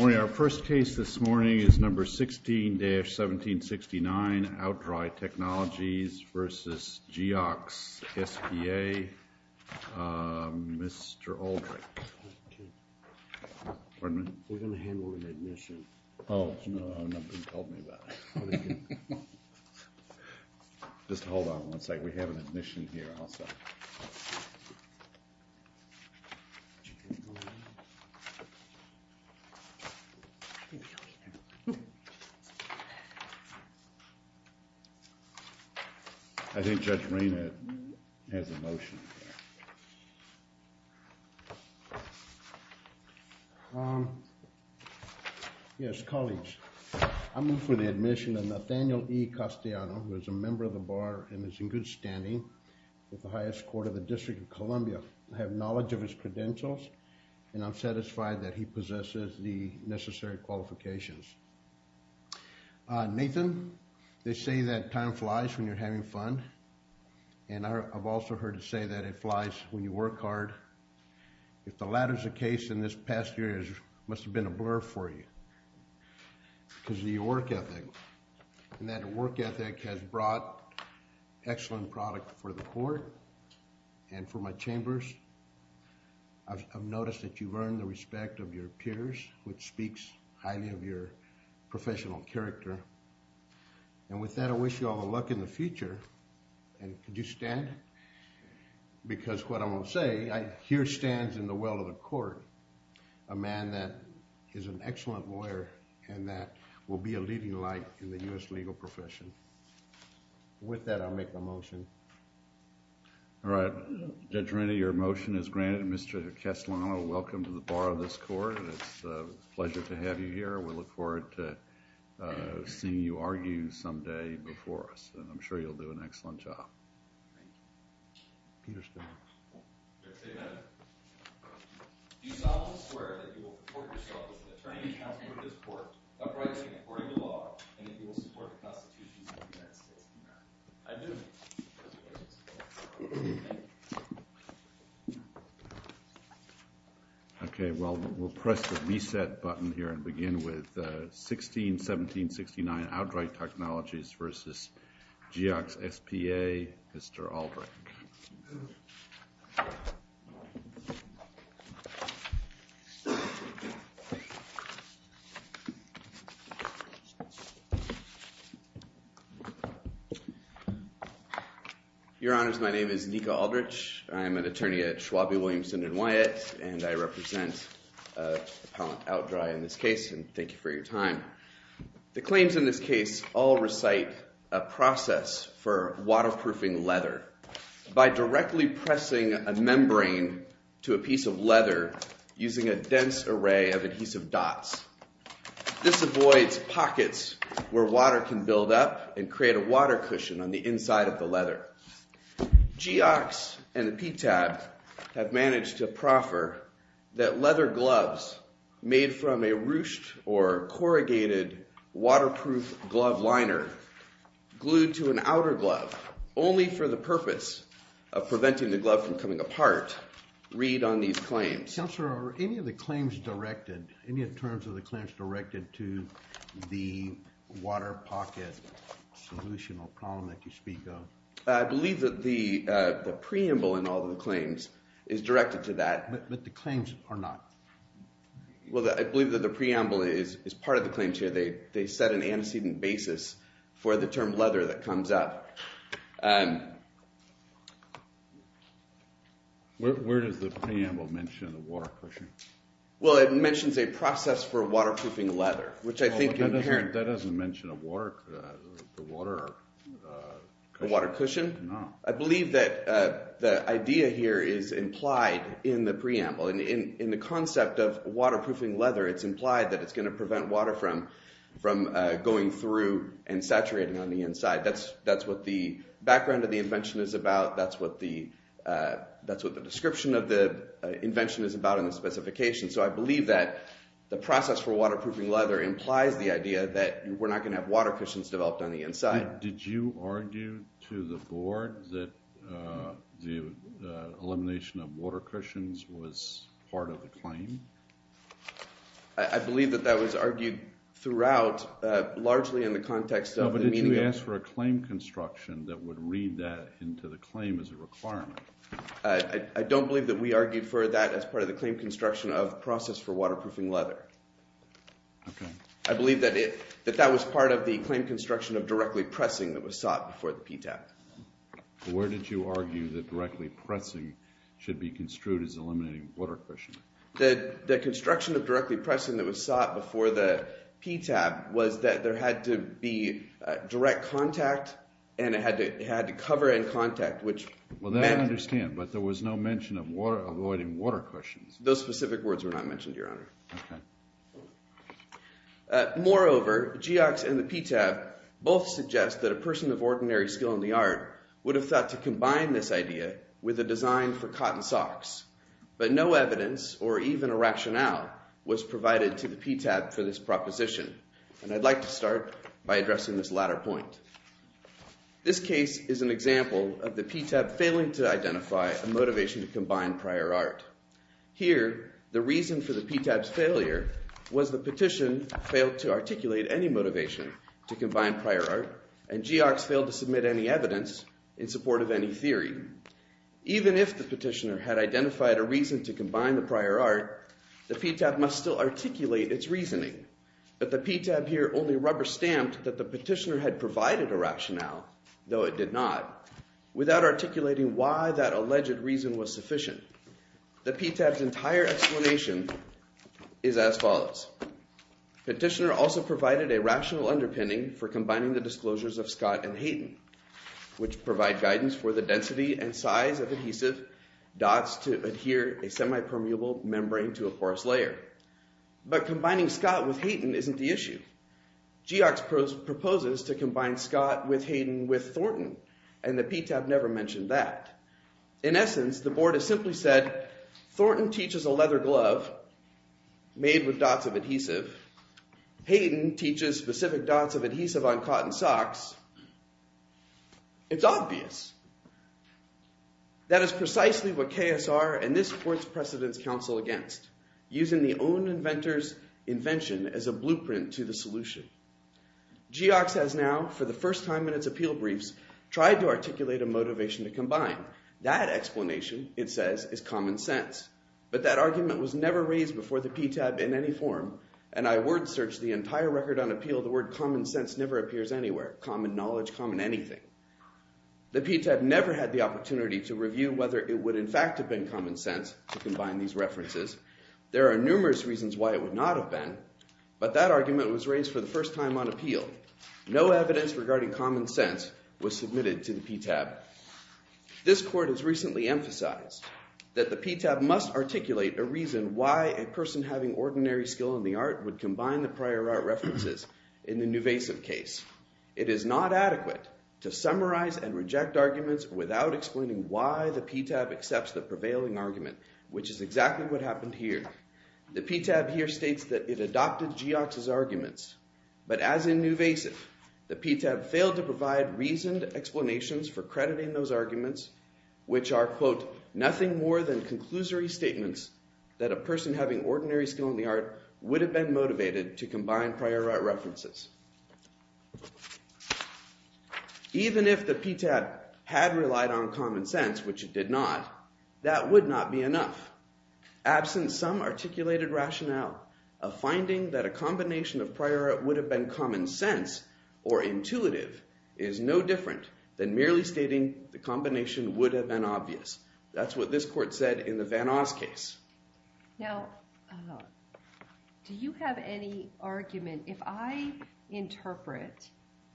Our first case this morning is number 16-1769, Outdry Technologies v. Geox S.p.A., Mr. Aldrich. Pardon me? We're going to handle an admission. Oh, nothing told me about it. Just hold on one second, we have an admission here also. I think Judge Rayner has a motion. Yes, colleagues, I move for the admission of Nathaniel E. Castellano, who is a member of the Bar and is in good standing with the highest court of the District of Columbia. I have knowledge of his credentials and I'm satisfied that he possesses the necessary qualifications. Nathan, they say that time flies when you're having fun, and I've also heard it say that it flies when you work hard. If the latter is the case, then this past year must have been a blur for you because of your work ethic, and that work ethic has brought excellent product for the court and for my chambers. I've noticed that you've earned the respect of your peers, which speaks highly of your professional character. And with that, I wish you all the luck in the future. And could you stand? Because what I'm going to say, I hear stands in the well of the court a man that is an excellent lawyer and that will be a leading light in the U.S. legal profession. With that, I'll make my motion. All right. Judge Rennie, your motion is granted. Mr. Castellano, welcome to the Bar of this Court. It's a pleasure to have you here. We look forward to seeing you argue someday before us, and I'm sure you'll do an excellent job. Thank you. Peter Stan. Your statement. Do you solemnly swear that you will report yourself as an attorney to counsel for this court, upright and according to law, and that you will support the Constitution of the United States of America? I do. Thank you. Okay, well, we'll press the reset button here and begin with 161769, Outright Technologies v. GXSPA, Mr. Albright. Your Honors, my name is Niko Aldrich. I am an attorney at Schwab v. Williamson & Wyatt, and I represent Appellant Outdry in this case, and thank you for your time. The claims in this case all recite a process for waterproofing leather by directly pressing a membrane to a piece of leather using a dense array of adhesive dots. This avoids pockets where water can build up and create a water cushion on the inside of the leather. GX and the PTAB have managed to proffer that leather gloves made from a ruched or corrugated waterproof glove liner glued to an outer glove only for the purpose of preventing the glove from coming apart read on these claims. Counselor, are any of the claims directed, any in terms of the claims directed to the water pocket solution or problem that you speak of? I believe that the preamble in all of the claims is directed to that. But the claims are not. Well, I believe that the preamble is part of the claims here. They set an antecedent basis for the term leather that comes up. Where does the preamble mention the water cushion? Well, it mentions a process for waterproofing leather, which I think is inherent. That doesn't mention the water cushion. The water cushion? No. I believe that the idea here is implied in the preamble. In the concept of waterproofing leather, it's implied that it's going to prevent water from going through and saturating on the inside. That's what the background of the invention is about. That's what the description of the invention is about in the specification. So I believe that the process for waterproofing leather implies the idea that we're not going to have water cushions developed on the inside. Did you argue to the board that the elimination of water cushions was part of the claim? I believe that that was argued throughout, largely in the context of the meeting. No, but did you ask for a claim construction that would read that into the claim as a requirement? I don't believe that we argued for that as part of the claim construction of process for waterproofing leather. Okay. I believe that that was part of the claim construction of directly pressing that was sought before the PTAB. Where did you argue that directly pressing should be construed as eliminating water cushioning? The construction of directly pressing that was sought before the PTAB was that there had to be direct contact and it had to cover in contact, which meant— Well, that I understand, but there was no mention of avoiding water cushions. Those specific words were not mentioned, Your Honor. Okay. Moreover, Geox and the PTAB both suggest that a person of ordinary skill in the art would have thought to combine this idea with a design for cotton socks, but no evidence or even a rationale was provided to the PTAB for this proposition, and I'd like to start by addressing this latter point. This case is an example of the PTAB failing to identify a motivation to combine prior art. Here, the reason for the PTAB's failure was the petition failed to articulate any motivation to combine prior art, and Geox failed to submit any evidence in support of any theory. Even if the petitioner had identified a reason to combine the prior art, the PTAB must still articulate its reasoning, but the PTAB here only rubber-stamped that the petitioner had provided a rationale, though it did not, without articulating why that alleged reason was sufficient. The PTAB's entire explanation is as follows. Petitioner also provided a rational underpinning for combining the disclosures of Scott and Hayden, which provide guidance for the density and size of adhesive dots to adhere a semipermeable membrane to a porous layer. But combining Scott with Hayden isn't the issue. Geox proposes to combine Scott with Hayden with Thornton, and the PTAB never mentioned that. In essence, the board has simply said Thornton teaches a leather glove made with dots of adhesive. Hayden teaches specific dots of adhesive on cotton socks. It's obvious. That is precisely what KSR and this board's precedence counsel against, using the own inventor's invention as a blueprint to the solution. Geox has now, for the first time in its appeal briefs, tried to articulate a motivation to combine. That explanation, it says, is common sense. But that argument was never raised before the PTAB in any form, and I word-searched the entire record on appeal, the word common sense never appears anywhere, common knowledge, common anything. The PTAB never had the opportunity to review whether it would in fact have been common sense to combine these references. There are numerous reasons why it would not have been, but that argument was raised for the first time on appeal. No evidence regarding common sense was submitted to the PTAB. This court has recently emphasized that the PTAB must articulate a reason why a person having ordinary skill in the art would combine the prior art references in the nuvasive case. It is not adequate to summarize and reject arguments without explaining why the PTAB accepts the prevailing argument, which is exactly what happened here. The PTAB here states that it adopted Geox's arguments. But as in nuvasive, the PTAB failed to provide reasoned explanations for crediting those arguments, which are, quote, nothing more than conclusory statements that a person having ordinary skill in the art would have been motivated to combine prior art references. Even if the PTAB had relied on common sense, which it did not, that would not be enough. Absent some articulated rationale, a finding that a combination of prior art would have been common sense or intuitive is no different than merely stating the combination would have been obvious. That's what this court said in the Van Oz case. Now, do you have any argument? If I interpret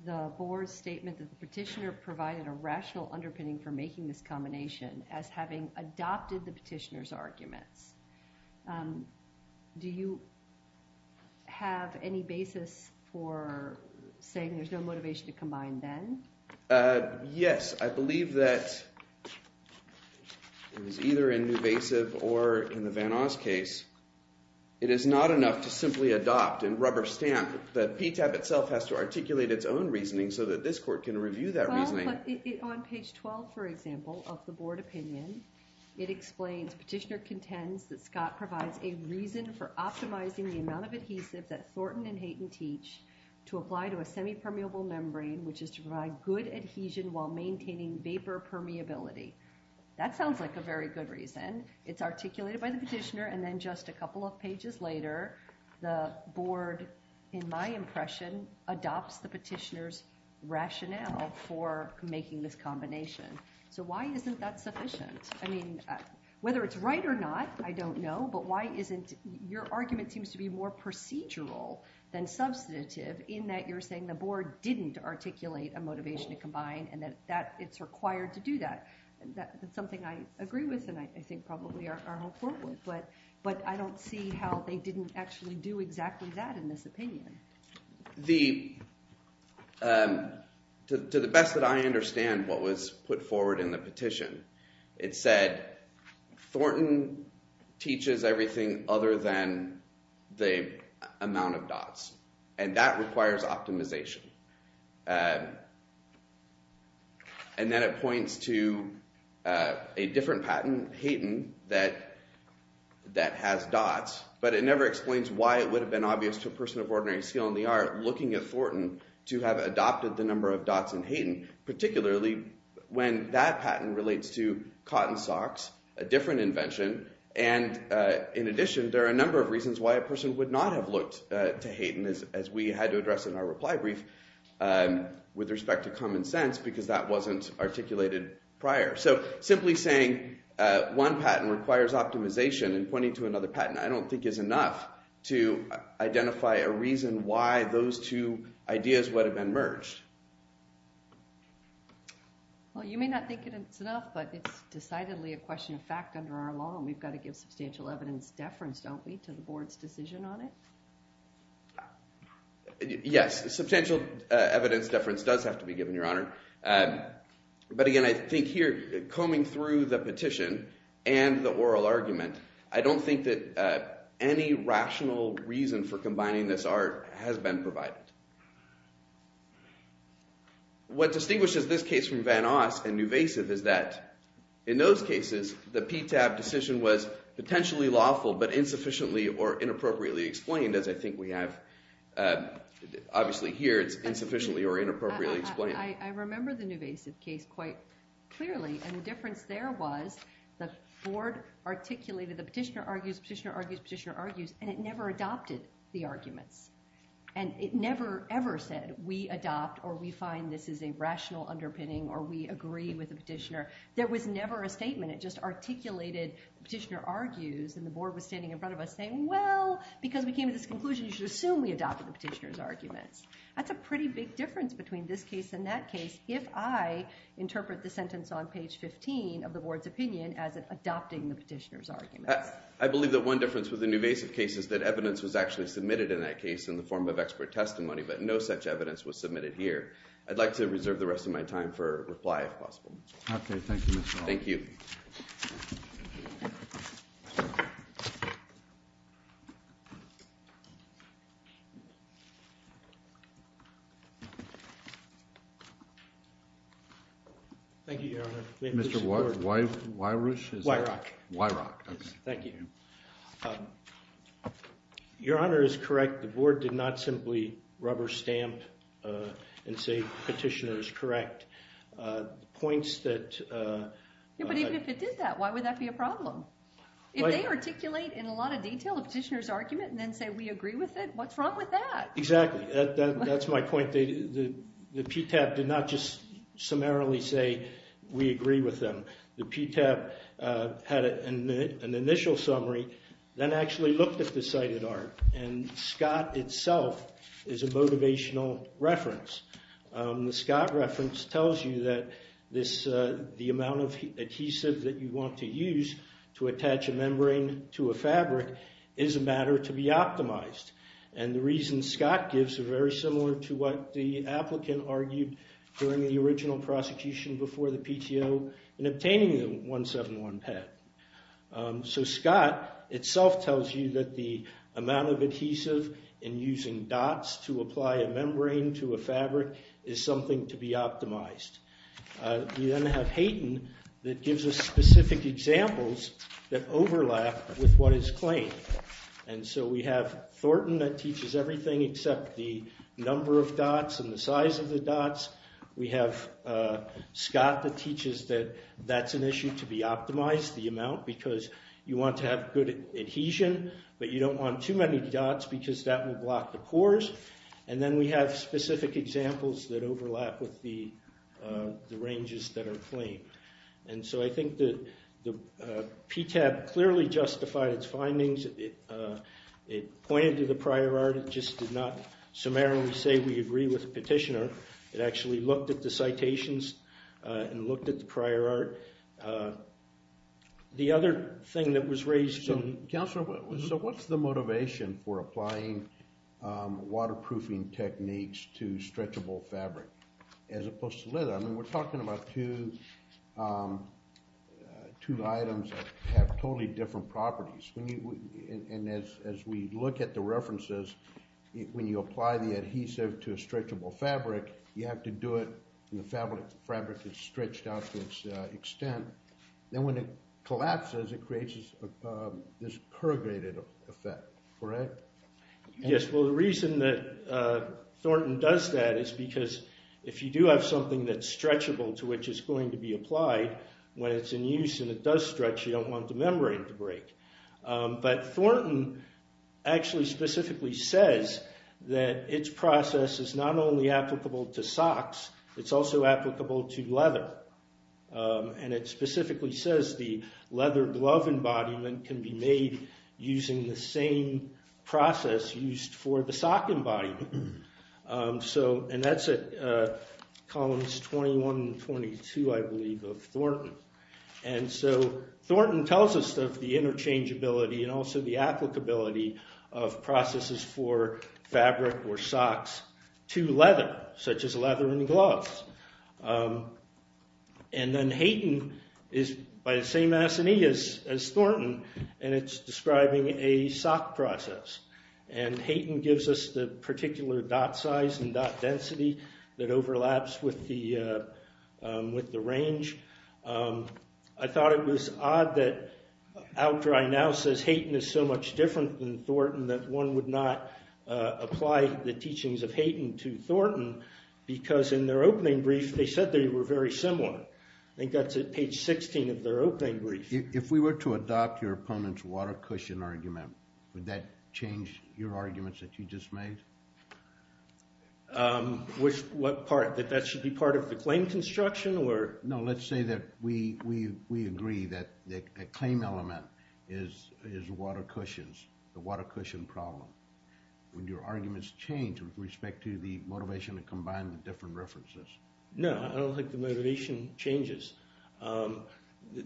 the board's statement that the petitioner provided a rational underpinning for making this combination as having adopted the petitioner's arguments, do you have any basis for saying there's no motivation to combine then? Yes, I believe that it was either in nuvasive or in the Van Oz case. It is not enough to simply adopt and rubber stamp. The PTAB itself has to articulate its own reasoning so that this court can review that reasoning. On page 12, for example, of the board opinion, it explains petitioner contends that Scott provides a reason for optimizing the amount of adhesive that Thornton and Hayton teach to apply to a semipermeable membrane, which is to provide good adhesion while maintaining vapor permeability. That sounds like a very good reason. It's articulated by the petitioner. And then just a couple of pages later, the board, in my impression, adopts the petitioner's rationale for making this combination. So why isn't that sufficient? I mean, whether it's right or not, I don't know. Your argument seems to be more procedural than substantive in that you're saying the board didn't articulate a motivation to combine and that it's required to do that. That's something I agree with and I think probably our whole court would. But I don't see how they didn't actually do exactly that in this opinion. To the best that I understand what was put forward in the petition, it said Thornton teaches everything other than the amount of dots and that requires optimization. And then it points to a different patent, Hayton, that has dots, but it never explains why it would have been obvious to a person of ordinary skill in the art looking at Thornton to have adopted the number of dots in Hayton, particularly when that patent relates to cotton socks, a different invention. And in addition, there are a number of reasons why a person would not have looked to Hayton, as we had to address in our reply brief, with respect to common sense because that wasn't articulated prior. So simply saying one patent requires optimization and pointing to another patent I don't think is enough to identify a reason why those two ideas would have been merged. Well, you may not think it's enough, but it's decidedly a question of fact under our law and we've got to give substantial evidence deference, don't we, to the board's decision on it? Yes, substantial evidence deference does have to be given, Your Honor. But again, I think here, combing through the petition and the oral argument, I don't think that any rational reason for combining this art has been provided. What distinguishes this case from Van Oss and Nuvasiv is that in those cases, the PTAB decision was potentially lawful but insufficiently or inappropriately explained, as I think we have obviously here, it's insufficiently or inappropriately explained. I remember the Nuvasiv case quite clearly and the difference there was the board articulated, the petitioner argues, petitioner argues, petitioner argues, and it never adopted the arguments. And it never ever said, we adopt or we find this is a rational underpinning or we agree with the petitioner. There was never a statement, it just articulated, the petitioner argues, and the board was standing in front of us saying, well, because we came to this conclusion, you should assume we adopted the petitioner's arguments. That's a pretty big difference between this case and that case, if I interpret the sentence on page 15 of the board's opinion as adopting the petitioner's arguments. I believe that one difference with the Nuvasiv case is that evidence was actually submitted in that case in the form of expert testimony, but no such evidence was submitted here. I'd like to reserve the rest of my time for reply, if possible. Okay, thank you, Mr. Hall. Thank you. Thank you, Your Honor. Mr. Weirich? Weirich. Weirich, okay. Thank you. Your Honor is correct, the board did not simply rubber stamp and say petitioner is correct. The points that- Yeah, but even if it did that, why would that be a problem? If they articulate in a lot of detail a petitioner's argument and then say we agree with it, what's wrong with that? Exactly, that's my point. The PTAB did not just summarily say we agree with them. The PTAB had an initial summary, then actually looked at the cited art, and Scott itself is a motivational reference. The Scott reference tells you that the amount of adhesive that you want to use to attach a membrane to a fabric is a matter to be optimized, and the reasons Scott gives are very similar to what the applicant argued during the original prosecution before the PTO in obtaining the 171 pet. So Scott itself tells you that the amount of adhesive in using dots to apply a membrane to a fabric is something to be optimized. You then have Hayton that gives us specific examples that overlap with what is claimed, and so we have Thornton that teaches everything except the number of dots and the size of the dots. We have Scott that teaches that that's an issue to be optimized, the amount, because you want to have good adhesion, but you don't want too many dots because that will block the cores, and then we have specific examples that overlap with the ranges that are claimed. And so I think that the PTAB clearly justified its findings. It pointed to the prior art. It just did not summarily say we agree with the petitioner. It actually looked at the citations and looked at the prior art. The other thing that was raised... So what's the motivation for applying waterproofing techniques to stretchable fabric as opposed to leather? We're talking about two items that have totally different properties, and as we look at the references, when you apply the adhesive to a stretchable fabric, you have to do it when the fabric is stretched out to its extent. Then when it collapses, it creates this corrugated effect, correct? Yes, well, the reason that Thornton does that is because if you do have something that's stretchable to which it's going to be applied, when it's in use and it does stretch, you don't want the membrane to break. But Thornton actually specifically says that its process is not only applicable to socks, it's also applicable to leather, and it specifically says the leather glove embodiment can be made using the same process used for the sock embodiment. That's at columns 21 and 22, I believe, of Thornton. Thornton tells us of the interchangeability and also the applicability of processes for fabric or socks to leather, such as leather and gloves. And then Hayton is by the same assignee as Thornton, and it's describing a sock process. And Hayton gives us the particular dot size and dot density that overlaps with the range. I thought it was odd that Outdry now says Hayton is so much different than Thornton that one would not apply the teachings of Hayton to Thornton, because in their opening brief they said they were very similar. I think that's at page 16 of their opening brief. If we were to adopt your opponent's water cushion argument, would that change your arguments that you just made? What part? That that should be part of the claim construction? No, let's say that we agree that a claim element is water cushions. The water cushion problem. Would your arguments change with respect to the motivation to combine the different references? No, I don't think the motivation changes.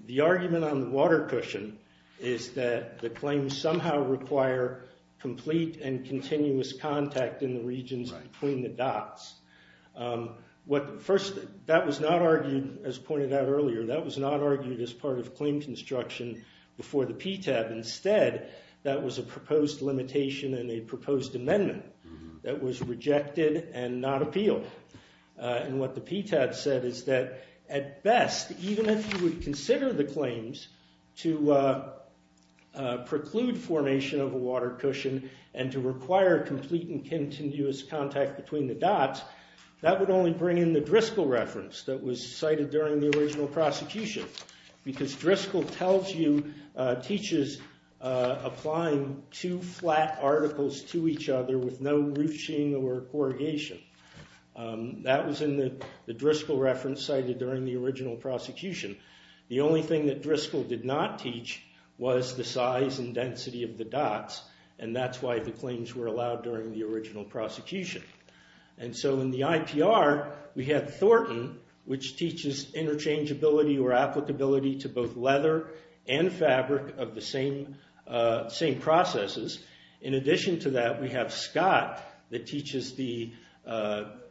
The argument on the water cushion is that the claims somehow require complete and continuous contact in the regions between the dots. First, that was not argued, as pointed out earlier, that was not argued as part of claim construction before the PTAB. Instead, that was a proposed limitation and a proposed amendment that was rejected and not appealed. And what the PTAB said is that, at best, even if you would consider the claims to preclude formation of a water cushion and to require complete and continuous contact between the dots, that would only bring in the Driscoll reference that was cited during the original prosecution, because Driscoll teaches applying two flat articles to each other with no roofing or corrugation. That was in the Driscoll reference cited during the original prosecution. The only thing that Driscoll did not teach was the size and density of the dots, and that's why the claims were allowed during the original prosecution. In the IPR, we have Thornton, which teaches interchangeability or applicability to both leather and fabric of the same processes. In addition to that, we have Scott that teaches the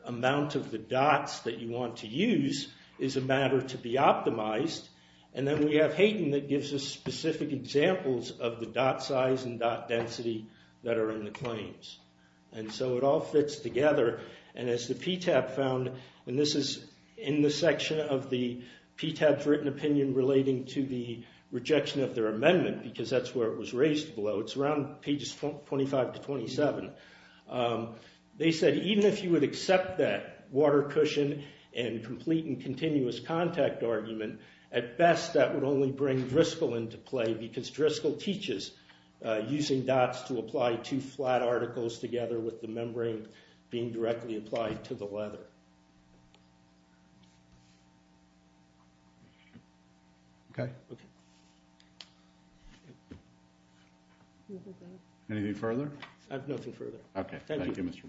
amount of the dots that you want to use is a matter to be optimized. And then we have Hayton that gives us specific examples of the dot size and dot density that are in the claims. And so it all fits together, and as the PTAB found, and this is in the section of the PTAB's written opinion relating to the rejection of their amendment, because that's where it was raised below. It's around pages 25 to 27. They said even if you would accept that water cushion and complete and continuous contact argument, at best that would only bring Driscoll into play because Driscoll teaches using dots to apply two flat articles together with the membrane being directly applied to the leather. Anything further? I have nothing further. Okay. Thank you, Mr.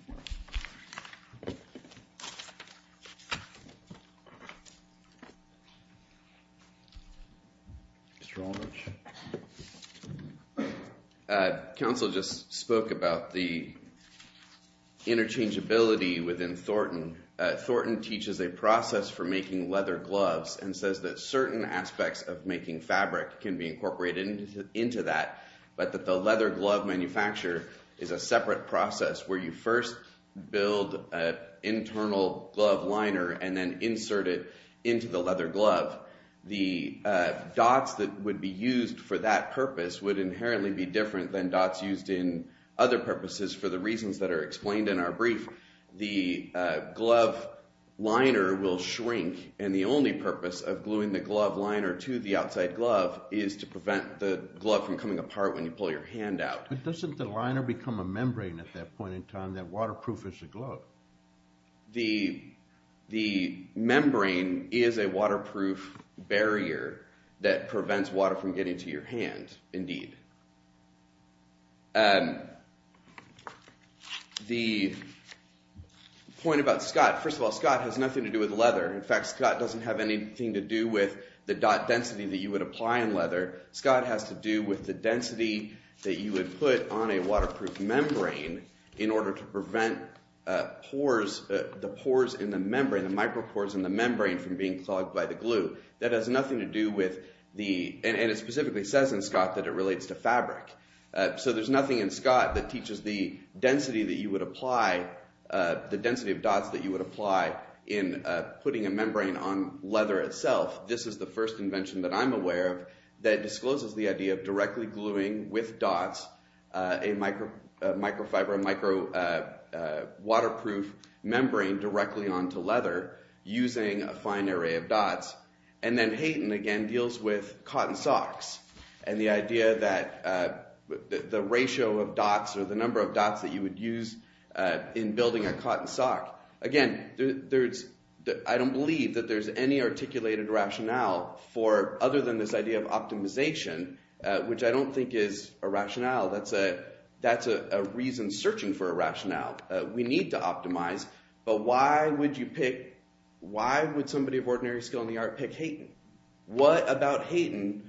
McMartin. Mr. Aldrich. Council just spoke about the interchangeability within Thornton. Thornton teaches a process for making leather gloves and says that certain aspects of making fabric can be incorporated into that, but that the leather glove manufacturer is a separate process where you first build an internal glove liner and then insert it into the leather glove. The dots that would be used for that purpose would inherently be different than dots used in other purposes for the reasons that are explained in our brief. The glove liner will shrink, and the only purpose of gluing the glove liner to the outside glove is to prevent the glove from coming apart when you pull your hand out. But doesn't the liner become a membrane at that point in time that waterproofs the glove? The membrane is a waterproof barrier that prevents water from getting to your hand, indeed. The point about Scott, first of all, Scott has nothing to do with leather. In fact, Scott doesn't have anything to do with the dot density that you would apply on leather. Scott has to do with the density that you would put on a waterproof membrane in order to prevent the pores in the membrane, the micropores in the membrane, from being clogged by the glue. That has nothing to do with the, and it specifically says in Scott that it relates to fabric. So there's nothing in Scott that teaches the density that you would apply, the density of dots that you would apply in putting a membrane on leather itself. This is the first invention that I'm aware of that discloses the idea of directly gluing with dots a microfiber, a micro-waterproof membrane directly onto leather using a fine array of dots. And then Hayton, again, deals with cotton socks and the idea that the ratio of dots or the number of dots that you would use in building a cotton sock. Again, I don't believe that there's any articulated rationale for, other than this idea of optimization, which I don't think is a rationale. That's a reason searching for a rationale. We need to optimize, but why would you pick, why would somebody of ordinary skill in the art pick Hayton? What about Hayton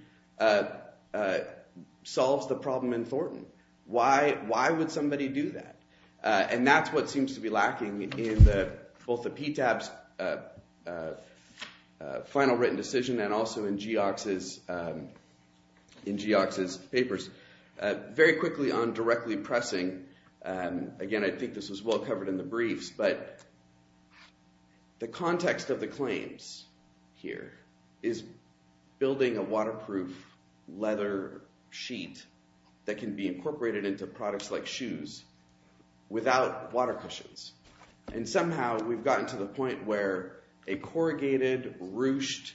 solves the problem in Thornton? Why would somebody do that? And that's what seems to be lacking in both the PTAB's final written decision and also in Geox's papers. Very quickly on directly pressing, again, I think this was well covered in the briefs, but the context of the claims here is building a waterproof leather sheet that can be incorporated into products like shoes without water cushions. And somehow we've gotten to the point where a corrugated, ruched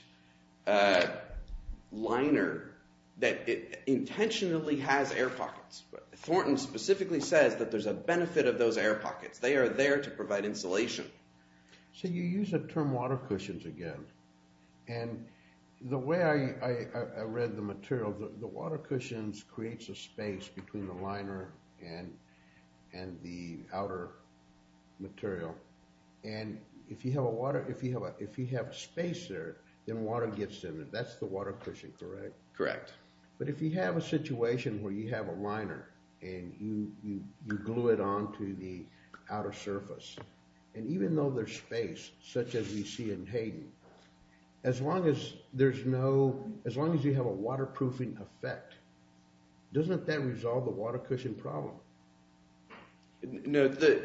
liner that intentionally has air pockets. Thornton specifically says that there's a benefit of those air pockets. They are there to provide insulation. So you use the term water cushions again, and the way I read the material, the water cushions creates a space between the liner and the outer material. And if you have space there, then water gets in it. That's the water cushion, correct? Correct. But if you have a situation where you have a liner and you glue it onto the outer surface, and even though there's space, such as we see in Hayden, as long as you have a waterproofing effect, doesn't that resolve the water cushion problem? No, the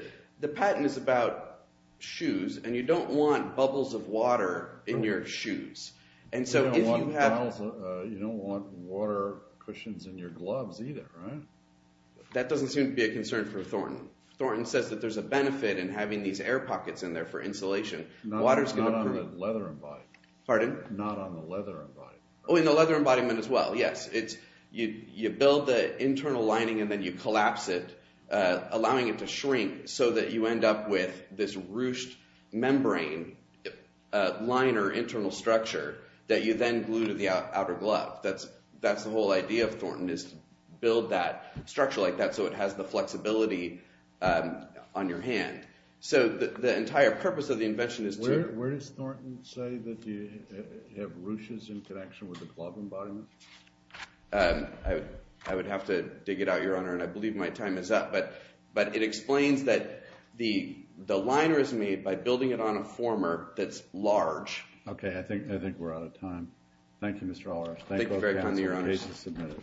patent is about shoes, and you don't want bubbles of water in your shoes. You don't want water cushions in your gloves either, right? That doesn't seem to be a concern for Thornton. Thornton says that there's a benefit in having these air pockets in there for insulation. Not on the leather embodiment. Pardon? Not on the leather embodiment. Oh, in the leather embodiment as well, yes. You build the internal lining and then you collapse it, allowing it to shrink, so that you end up with this ruched membrane liner internal structure that you then glue to the outer glove. That's the whole idea of Thornton, is to build that structure like that so it has the flexibility on your hand. So the entire purpose of the invention is to… Where does Thornton say that you have ruches in connection with the glove embodiment? I would have to dig it out, Your Honor, and I believe my time is up, but it explains that the liner is made by building it on a former that's large. Okay, I think we're out of time. Thank you, Mr. Allrush. Thank you for your time, Your Honor.